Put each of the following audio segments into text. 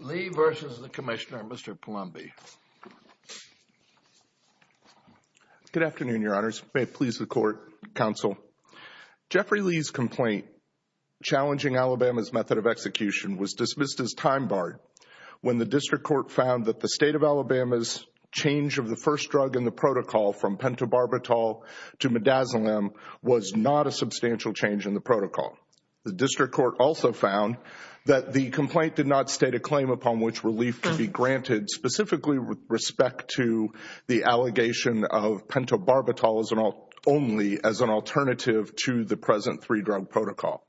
Lee v. Commissioner, Mr. Palombi Good afternoon, Your Honors. May it please the Court, Counsel. Jeffrey Lee's complaint challenging Alabama's method of execution was dismissed as time-barred when the District Court found that the State of Alabama's change of the first drug in the change in the protocol. The District Court also found that the complaint did not state a claim upon which relief could be granted specifically with respect to the allegation of pentobarbital only as an alternative to the present three-drug protocol.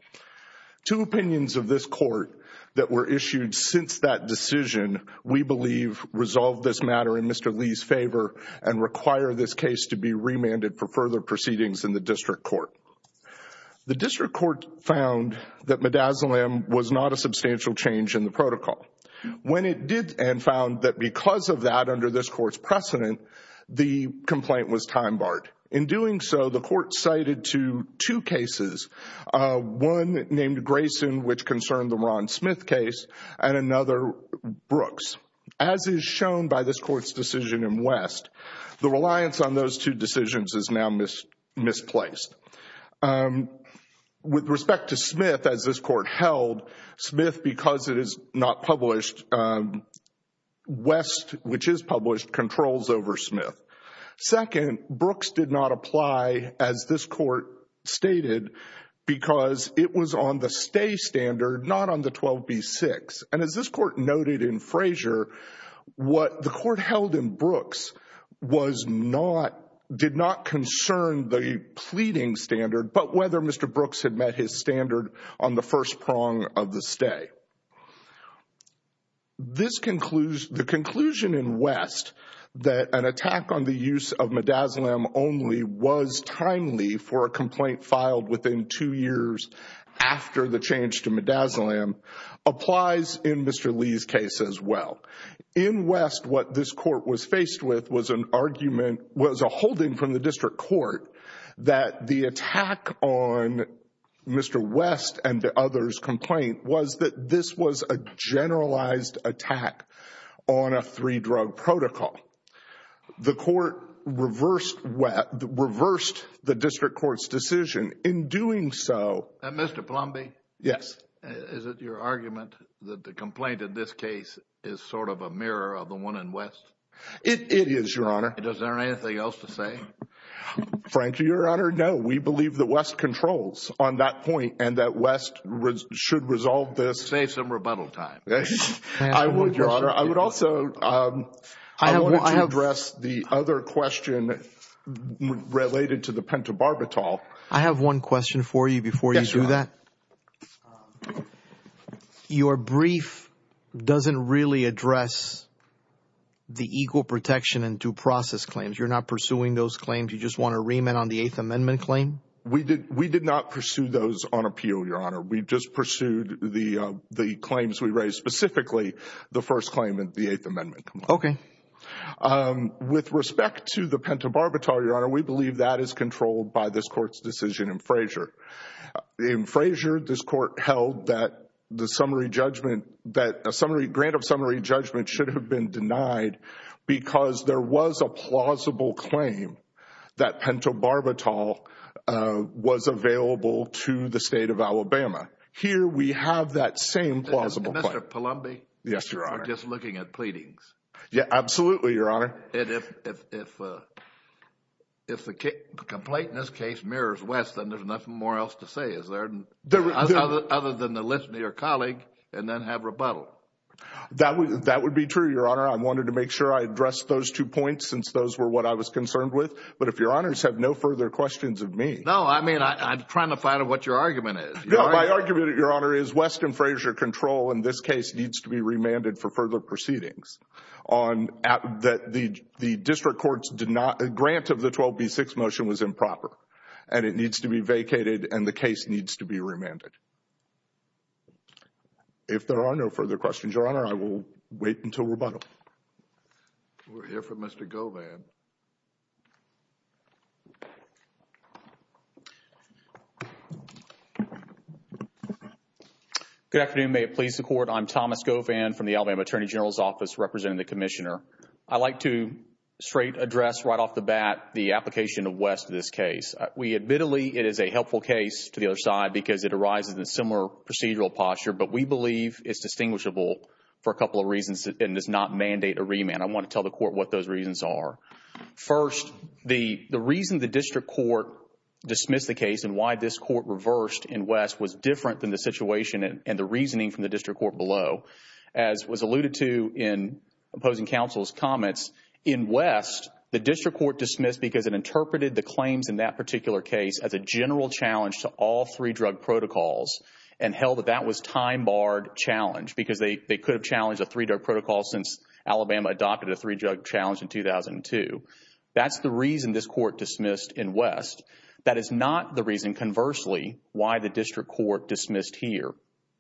Two opinions of this Court that were issued since that decision, we believe, resolve this matter in Mr. Lee's favor and require this case to be remanded for further proceedings in the District Court. The District Court found that midazolam was not a substantial change in the protocol. When it did and found that because of that under this Court's precedent, the complaint was time-barred. In doing so, the Court cited to two cases, one named Grayson, which concerned the Ron Smith case, and another, Brooks. As is shown by this Court's decision in West, the reliance on those two decisions is now misplaced. With respect to Smith, as this Court held, Smith, because it is not published, West, which is published, controls over Smith. Second, Brooks did not apply, as this Court stated, because it was on the stay standard, not on the 12b-6. As this Court noted in Frazier, what the Court held in Brooks did not concern the pleading standard, but whether Mr. Brooks had met his standard on the first prong of the stay. The conclusion in West that an attack on the use of midazolam only was timely for a complaint filed within two years after the change to midazolam applies in Mr. Lee's case as well. In West, what this Court was faced with was a holding from the District Court that the attack on Mr. West and the other's complaint was that this was a generalized attack on a three-drug protocol. The Court reversed the District Court's decision in doing so... And Mr. Plumby? Yes. Is it your argument that the complaint in this case is sort of a mirror of the one in West? It is, Your Honor. Is there anything else to say? Frankly, Your Honor, no. We believe that West controls on that point and that West should resolve this... Save some rebuttal time. I would, Your Honor. I would also... I want to address the other question related to the pentobarbital. I have one question for you before you do that. Your brief doesn't really address the equal protection and due process claims. You're not pursuing those claims. You just want to remit on the Eighth Amendment claim? We did not pursue those on appeal, Your Honor. We just pursued the claims we raised, specifically the first claim in the Eighth Amendment. With respect to the pentobarbital, Your Honor, we believe that is controlled by this Court's decision in Frazier. In Frazier, this Court held that the summary judgment... that a grant of summary judgment should have been denied because there was a plausible claim that pentobarbital was available to the State of Alabama. Here we have that same plausible claim. Mr. Palumbi? Yes, Your Honor. I'm just looking at pleadings. Yes, absolutely, Your Honor. If the complaint in this case mirrors West, then there's nothing more else to say, is there, other than to listen to your colleague and then have rebuttal? That would be true, Your Honor. I wanted to make sure I addressed those two points since those were what I was concerned with. But if Your Honors have no further questions of me... No, I mean, I'm trying to find out what your argument is. No, my argument, Your Honor, is West and Frazier control in this case needs to be remanded for further proceedings. The district courts did not... a grant of the 12B6 motion was improper and it needs to be vacated and the case needs to be remanded. If there are no further questions, Your Honor, I will wait until rebuttal. We'll hear from Mr. Govan. Mr. Govan, please go ahead. Good afternoon. May it please the Court, I'm Thomas Govan from the Alabama Attorney General's Office representing the Commissioner. I'd like to straight address right off the bat the application of West in this case. We admittedly, it is a helpful case to the other side because it arises in a similar procedural posture, but we believe it's distinguishable for a couple of reasons and does not mandate a remand. I want to tell the Court what those reasons are. First, the reason the district court dismissed the case and why this court reversed in West was different than the situation and the reasoning from the district court below. As was alluded to in opposing counsel's comments, in West, the district court dismissed because it interpreted the claims in that particular case as a general challenge to all three drug protocols and held that that was time-barred challenge because they could have challenged a three drug protocol since Alabama adopted a three drug challenge in 2002. That's the reason this court dismissed in West. That is not the reason, conversely, why the district court dismissed here.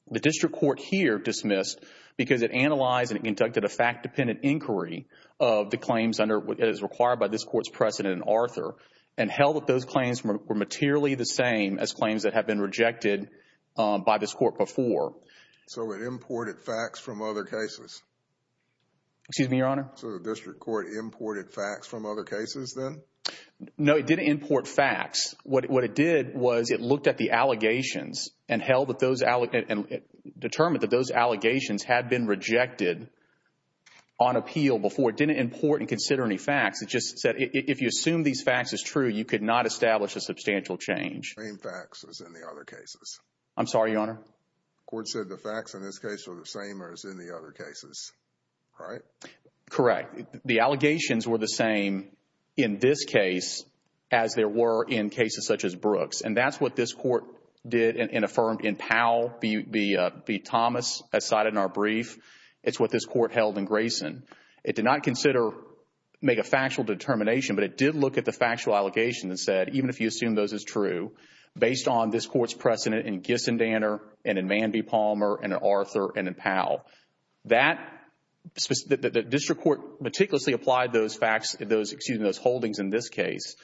The district court here dismissed because it analyzed and it conducted a fact-dependent inquiry of the claims under what is required by this court's precedent in Arthur and held that those claims were materially the same as claims that have been rejected by this court before. So, it imported facts from other cases? Excuse me, Your Honor? So, the district court imported facts from other cases then? No, it didn't import facts. What it did was it looked at the allegations and determined that those allegations had been rejected on appeal before. It didn't import and consider any facts. It just said if you assume these facts is true, you could not establish a substantial The same facts as in the other cases? I'm sorry, Your Honor? The court said the facts in this case are the same as in the other cases, right? Correct. The allegations were the same in this case as there were in cases such as Brooks. And that's what this court did and affirmed in Powell v. Thomas, as cited in our brief. It's what this court held in Grayson. It did not consider, make a factual determination, but it did look at the factual allegations and said even if you assume those is true, based on this court's precedent in Gissendaner and in Manby-Palmer and in Arthur and in Powell, that the district court meticulously applied those facts, those, excuse me, those holdings in this case,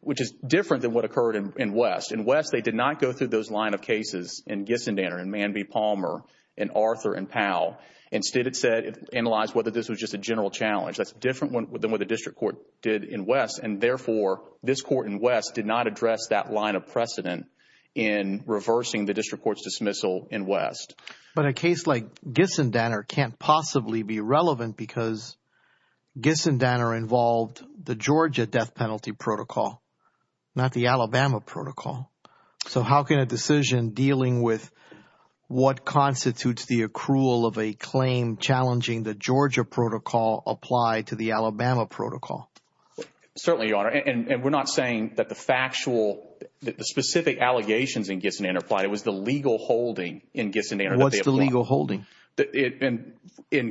which is different than what occurred in West. In West, they did not go through those line of cases in Gissendaner and Manby-Palmer and Arthur and Powell. Instead, it said, it analyzed whether this was just a general challenge. That's different than what the district court did in West, and therefore, this court in West did not address that line of precedent in reversing the district court's dismissal in West. But a case like Gissendaner can't possibly be relevant because Gissendaner involved the Georgia death penalty protocol, not the Alabama protocol. So how can a decision dealing with what constitutes the accrual of a claim challenging the Georgia protocol apply to the Alabama protocol? Certainly, Your Honor, and we're not saying that the factual, the specific allegations in Gissendaner applied. It was the legal holding in Gissendaner that they applied. What's the legal holding? In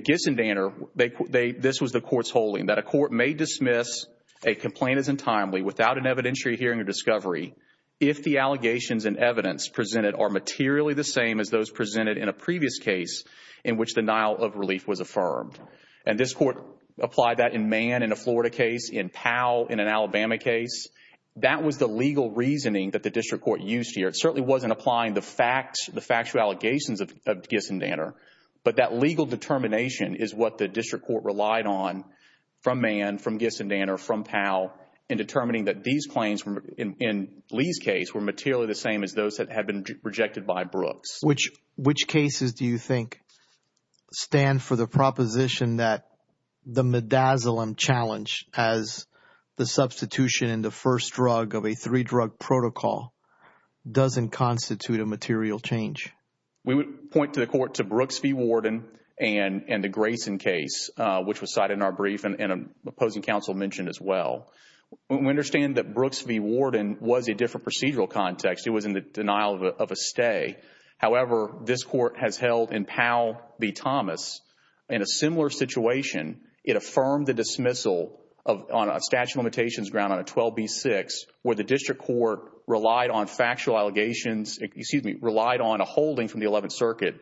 Gissendaner, this was the court's holding, that a court may dismiss a complaint as untimely without an evidentiary hearing or discovery if the allegations and evidence presented are materially the same as those presented in a previous case in which the denial of And this court applied that in Mann in a Florida case, in Powell in an Alabama case. That was the legal reasoning that the district court used here. It certainly wasn't applying the facts, the factual allegations of Gissendaner, but that legal determination is what the district court relied on from Mann, from Gissendaner, from Powell in determining that these claims in Lee's case were materially the same as those that had been rejected by Brooks. Which cases do you think stand for the proposition that the midazolam challenge as the substitution in the first drug of a three-drug protocol doesn't constitute a material change? We would point to the court, to Brooks v. Warden and the Grayson case, which was cited in our brief and an opposing counsel mentioned as well. We understand that Brooks v. Warden was a different procedural context. It was in the denial of a stay. However, this court has held in Powell v. Thomas, in a similar situation, it affirmed the dismissal on a statute of limitations ground on a 12b-6 where the district court relied on factual allegations, excuse me, relied on a holding from the 11th Circuit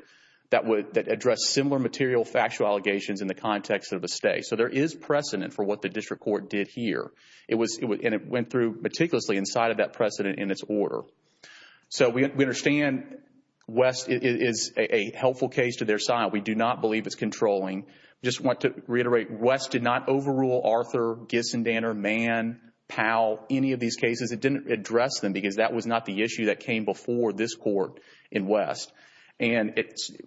that addressed similar material factual allegations in the context of a stay. So there is precedent for what the district court did here. It went through meticulously inside of that precedent in its order. So we understand West is a helpful case to their side. We do not believe it's controlling. Just want to reiterate, West did not overrule Arthur, Giss and Danner, Mann, Powell, any of these cases. It didn't address them because that was not the issue that came before this court in West. And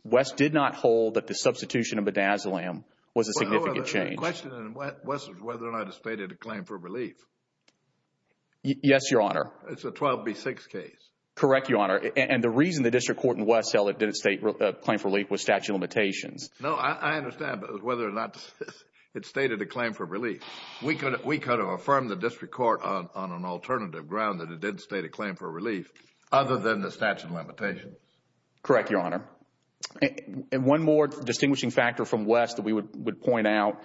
West did not hold that the substitution of midazolam was a significant change. My question in West is whether or not it stated a claim for relief. Yes, Your Honor. It's a 12b-6 case. Correct Your Honor. And the reason the district court in West held it didn't state a claim for relief was statute of limitations. No, I understand whether or not it stated a claim for relief. We could have affirmed the district court on an alternative ground that it didn't state a claim for relief other than the statute of limitations. Correct Your Honor. And one more distinguishing factor from West that we would point out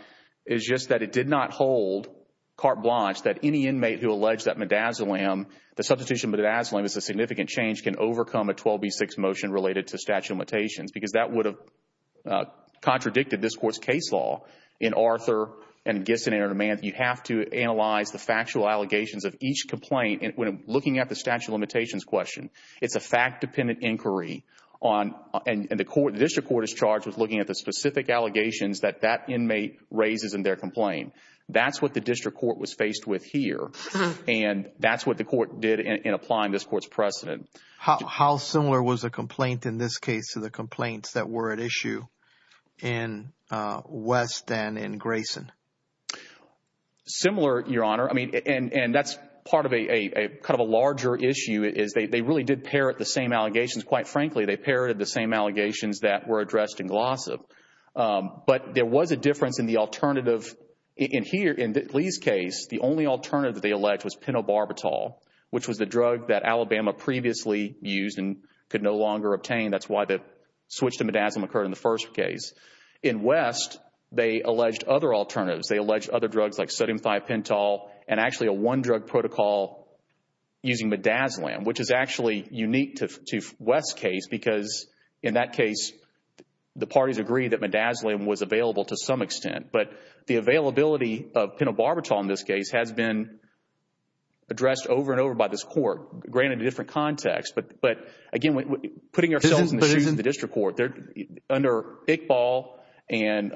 is just that it did not hold, carte blanche, that any inmate who alleged that midazolam, the substitution of midazolam is a significant change, can overcome a 12b-6 motion related to statute of limitations because that would have contradicted this court's case law in Arthur and Giss and Danner and Mann. You have to analyze the factual allegations of each complaint when looking at the statute of limitations question. It's a fact-dependent inquiry and the district court is charged with looking at the specific allegations that that inmate raises in their complaint. That's what the district court was faced with here and that's what the court did in applying this court's precedent. How similar was the complaint in this case to the complaints that were at issue in West and in Grayson? Similar, Your Honor. And that's part of a larger issue is they really did parrot the same allegations. Quite frankly, they parroted the same allegations that were addressed in Glossop. But there was a difference in the alternative in Lee's case. The only alternative that they alleged was penobarbital, which was the drug that Alabama previously used and could no longer obtain. That's why the switch to midazolam occurred in the first case. In West, they alleged other alternatives. They alleged other drugs like sodium 5-pentol and actually a one-drug protocol using midazolam, which is actually unique to West's case because in that case, the parties agreed that midazolam was available to some extent. But the availability of penobarbital in this case has been addressed over and over by this court, granted a different context. But again, putting ourselves in the shoes of the district court, under Iqbal and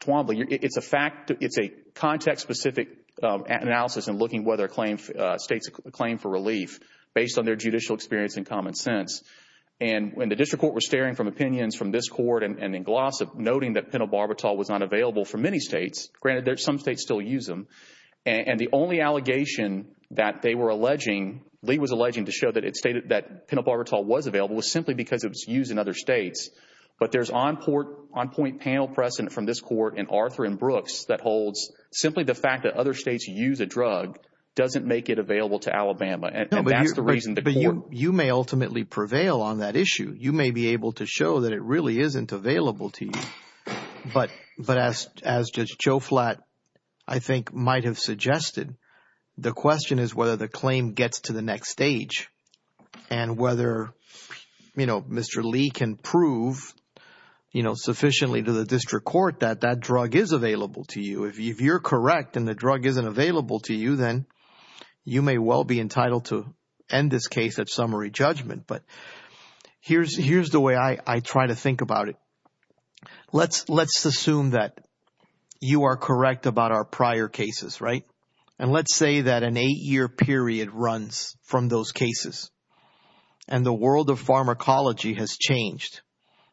Twombly, it's a fact, it's a context-specific analysis in looking whether states claim for relief based on their judicial experience and common sense. And the district court was staring from opinions from this court and in Glossop noting that penobarbital was not available for many states, granted some states still use them. And the only allegation that they were alleging, Lee was alleging to show that it stated that penobarbital was available was simply because it was used in other states. But there's on-point panel precedent from this court in Arthur and Brooks that holds simply the fact that other states use a drug doesn't make it available to Alabama. And that's the reason the court— But you may ultimately prevail on that issue. You may be able to show that it really isn't available to you. But as Judge Joe Flatt, I think, might have suggested, the question is whether the claim gets to the next stage and whether, you know, Mr. Lee can prove, you know, sufficiently to the district court that that drug is available to you. If you're correct and the drug isn't available to you, then you may well be entitled to end this case at summary judgment. But here's the way I try to think about it. Let's assume that you are correct about our prior cases, right? And let's say that an eight-year period runs from those cases and the world of pharmacology has changed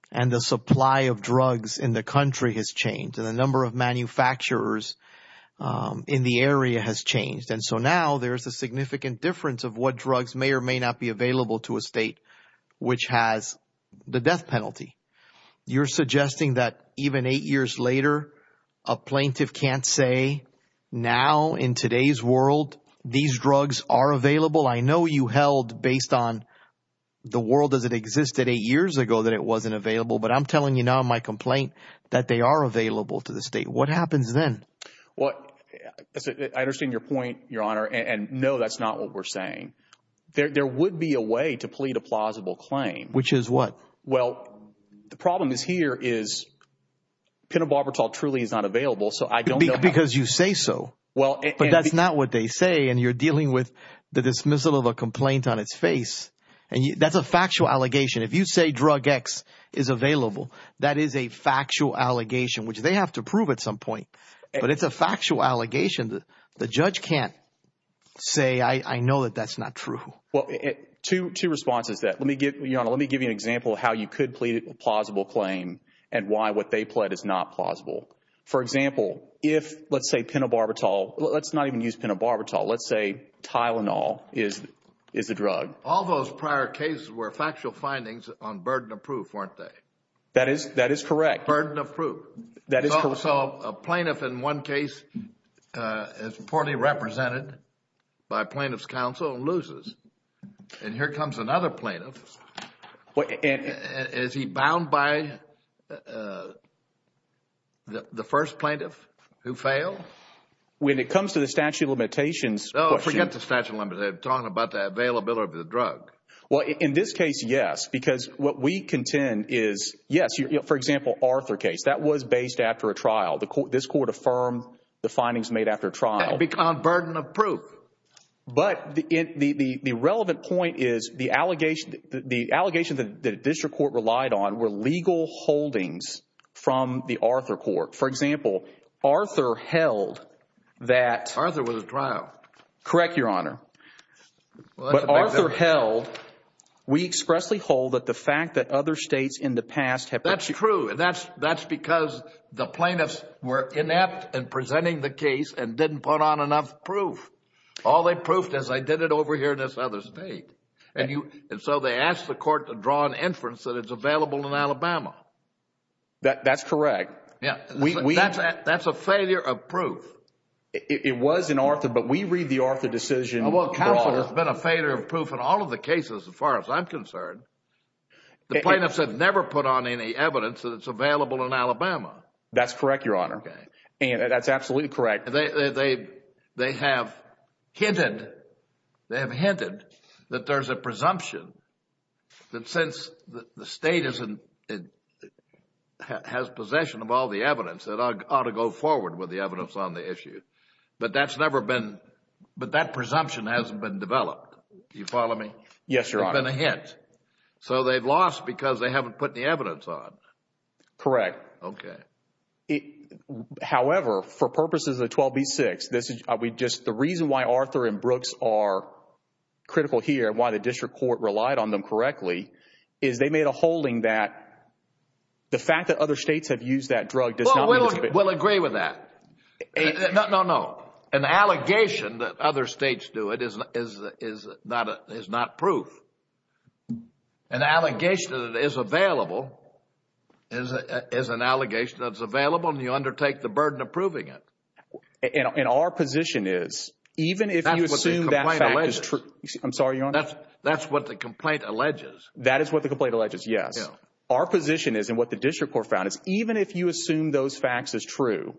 and the supply of drugs in the country has changed and the number of manufacturers in the area has changed. And so now there's a significant difference of what drugs may or may not be available to a state which has the death penalty. You're suggesting that even eight years later, a plaintiff can't say, now, in today's world, these drugs are available? I know you held, based on the world as it existed eight years ago, that it wasn't available. But I'm telling you now in my complaint that they are available to the state. What happens then? Well, I understand your point, Your Honor, and no, that's not what we're saying. There would be a way to plead a plausible claim. Which is what? Well, the problem is here is Penobarbital truly is not available, so I don't know how Because you say so, but that's not what they say, and you're dealing with the dismissal of a complaint on its face, and that's a factual allegation. If you say drug X is available, that is a factual allegation, which they have to prove at some point, but it's a factual allegation. The judge can't say, I know that that's not true. Well, two responses to that. Your Honor, let me give you an example of how you could plead a plausible claim and why what they pled is not plausible. For example, if, let's say, Penobarbital, let's not even use Penobarbital, let's say Tylenol is a drug. All those prior cases were factual findings on burden of proof, weren't they? That is correct. Burden of proof. That is correct. So a plaintiff in one case is poorly represented by plaintiff's counsel and loses, and here comes another plaintiff. Is he bound by the first plaintiff who failed? When it comes to the statute of limitations question. Oh, forget the statute of limitations, I'm talking about the availability of the drug. Well, in this case, yes, because what we contend is, yes, for example, Arthur case. That was based after a trial. This Court affirmed the findings made after a trial. On burden of proof. But the relevant point is the allegations that the District Court relied on were legal holdings from the Arthur Court. For example, Arthur held that. Arthur was a trial. Correct, Your Honor. But Arthur held, we expressly hold that the fact that other states in the past have. That's true, and that's because the plaintiffs were inept in presenting the case and didn't put on enough proof. All they proofed is, I did it over here in this other state, and so they asked the Court to draw an inference that it's available in Alabama. That's correct. Yes. That's a failure of proof. It was in Arthur, but we read the Arthur decision. Counsel has been a failure of proof in all of the cases as far as I'm concerned. The plaintiffs have never put on any evidence that it's available in Alabama. That's correct, Your Honor. That's absolutely correct. They have hinted that there's a presumption that since the state has possession of all the evidence, that ought to go forward with the evidence on the issue. But that's never been, but that presumption hasn't been developed. You follow me? Yes, Your Honor. It's been a hint. So they've lost because they haven't put the evidence on. Correct. Okay. However, for purposes of 12b-6, the reason why Arthur and Brooks are critical here, why the District Court relied on them correctly, is they made a holding that the fact that other states have used that drug does not... Well, we'll agree with that. No, no. An allegation that other states do it is not proof. An allegation that it is available is an allegation that it's available and you undertake the burden of proving it. And our position is, even if you assume that fact is true... That's what the complaint alleges. I'm sorry, Your Honor? That's what the complaint alleges. That is what the complaint alleges, yes. Our position is, and what the District Court found is, even if you assume those facts is true,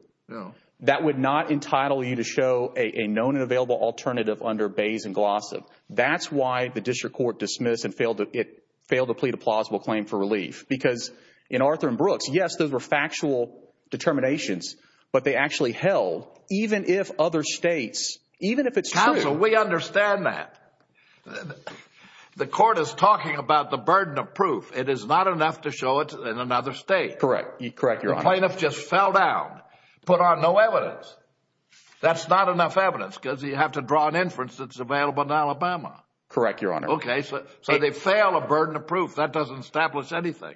that would not entitle you to show a known and available alternative under Bayes and Glossop. That's why the District Court dismissed and failed to plead a plausible claim for relief. Because in Arthur and Brooks, yes, those were factual determinations, but they actually held even if other states, even if it's true... Counsel, we understand that. The court is talking about the burden of proof. It is not enough to show it in another state. Correct. Correct, Your Honor. The plaintiff just fell down, put on no evidence. That's not enough evidence because you have to draw an inference that's available in Alabama. Correct, Your Honor. Okay, so they fail a burden of proof. That doesn't establish anything.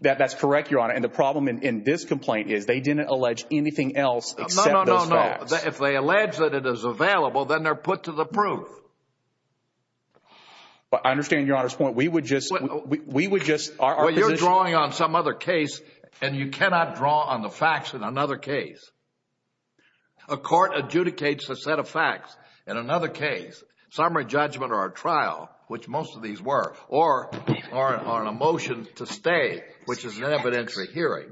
That's correct, Your Honor. And the problem in this complaint is they didn't allege anything else except those facts. No, no, no, no. If they allege that it is available, then they're put to the proof. I understand Your Honor's point. We would just... We would just... Our position... And you cannot draw on the facts in another case. A court adjudicates a set of facts in another case, summary judgment or a trial, which most of these were, or a motion to stay, which is an evidentiary hearing.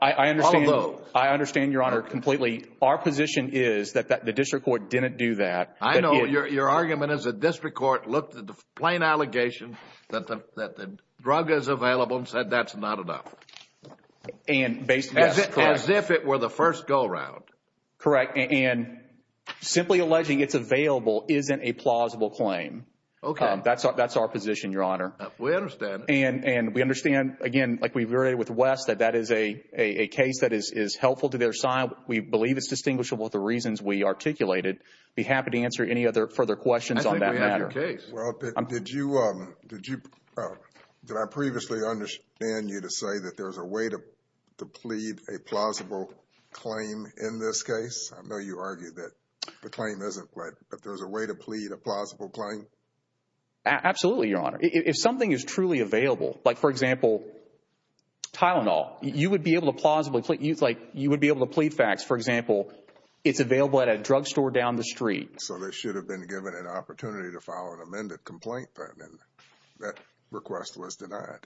I understand... All of those. I understand, Your Honor, completely. Our position is that the district court didn't do that. I know. Your argument is the district court looked at the plain allegation that the drug is available and said that's not enough. And based... As if it were the first go around. Correct. And simply alleging it's available isn't a plausible claim. Okay. That's our position, Your Honor. We understand. And we understand, again, like we've already with West, that that is a case that is helpful to their side. We believe it's distinguishable with the reasons we articulated. I'd be happy to answer any other further questions on that matter. I think we have your case. Well, did you... did I previously understand you to say that there's a way to plead a plausible claim in this case? I know you argued that the claim isn't, but if there's a way to plead a plausible claim? Absolutely, Your Honor. If something is truly available, like for example, Tylenol, you would be able to plausibly... like you would be able to plead facts. For example, it's available at a drug store down the street. So they should have been given an opportunity to file an amended complaint then. That request was denied.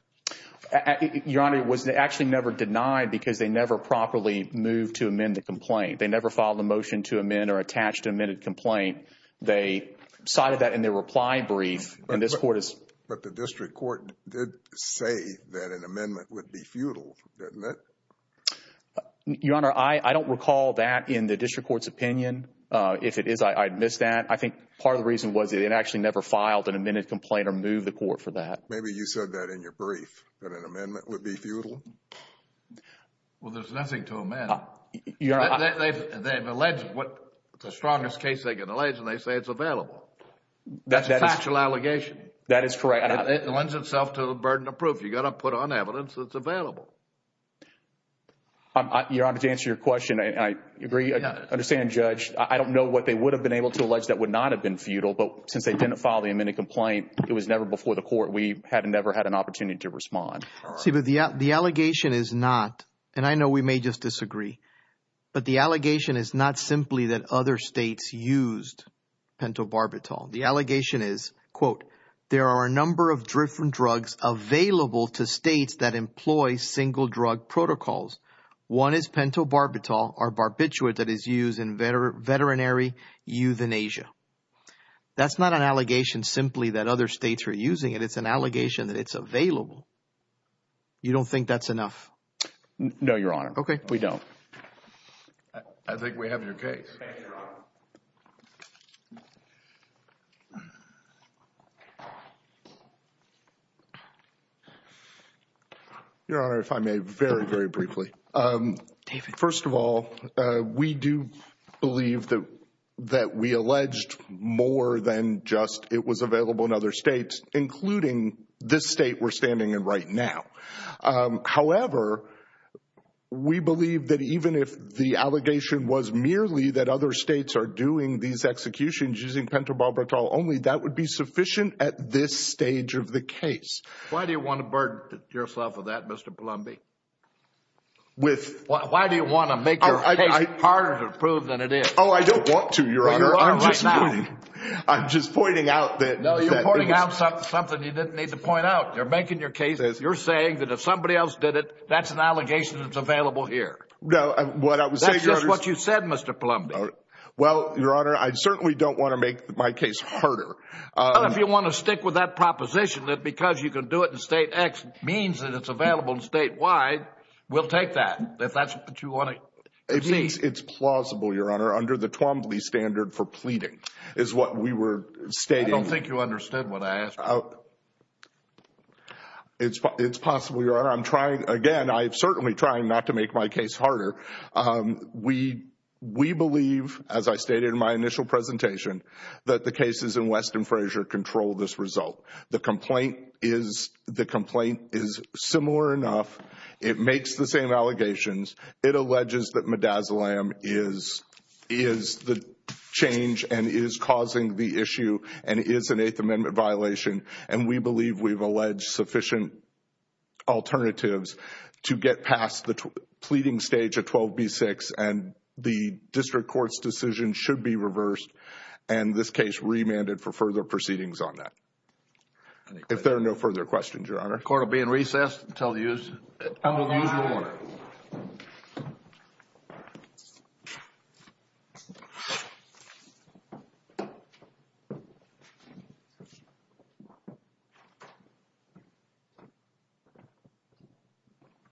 Your Honor, it was actually never denied because they never properly moved to amend the complaint. They never filed a motion to amend or attached an amended complaint. They cited that in their reply brief, and this Court has... But the district court did say that an amendment would be futile, didn't it? Your Honor, I don't recall that in the district court's opinion. If it is, I'd miss that. I think part of the reason was that it actually never filed an amended complaint or moved the Court for that. Maybe you said that in your brief, that an amendment would be futile. Well, there's nothing to amend. Your Honor... They've alleged what... the strongest case they could allege, and they say it's available. That's a factual allegation. That is correct. It lends itself to the burden of proof. You've got to put on evidence that's available. Your Honor, to answer your question, I agree... I don't know what they would have been able to allege that would not have been futile, but since they didn't file the amended complaint, it was never before the Court. We had never had an opportunity to respond. The allegation is not, and I know we may just disagree, but the allegation is not simply that other states used pentobarbital. The allegation is, quote, there are a number of different drugs available to states that employ single drug protocols. One is pentobarbital, or barbiturate, that is used in veterinary euthanasia. That's not an allegation simply that other states are using it. It's an allegation that it's available. You don't think that's enough? No, Your Honor. Okay. We don't. I think we have your case. Thank you, Your Honor. Your Honor, if I may, very, very briefly. First of all, we do believe that we alleged more than just it was available in other states, including this state we're standing in right now. However, we believe that even if the allegation was merely that other states are doing these executions using pentobarbital only, that would be sufficient at this stage of the case. Why do you want to burden yourself with that, Mr. Palumbi? Why do you want to make your case harder to prove than it is? Oh, I don't want to, Your Honor. Well, you are right now. I'm just pointing. I'm just pointing out that... No, you're pointing out something you didn't need to point out. You're making your case. You're making your case. You're saying that if somebody else did it, that's an allegation that's available here. No. What I was saying, Your Honor... That's just what you said, Mr. Palumbi. Well, Your Honor, I certainly don't want to make my case harder. Well, if you want to stick with that proposition that because you can do it in State X means that it's available in State Y, we'll take that, if that's what you want to proceed. It's plausible, Your Honor, under the Twombly standard for pleading, is what we were stating. I don't think you understood what I asked. It's possible, Your Honor, I'm trying... Again, I'm certainly trying not to make my case harder. We believe, as I stated in my initial presentation, that the cases in West and Frazier control this result. The complaint is similar enough. It makes the same allegations. It alleges that midazolam is the change and is causing the issue and is an Eighth Amendment violation and we believe we've alleged sufficient alternatives to get past the pleading stage of 12B6 and the district court's decision should be reversed and this case remanded for further proceedings on that. If there are no further questions, Your Honor... The court will be in recess until the usual order. Thank you.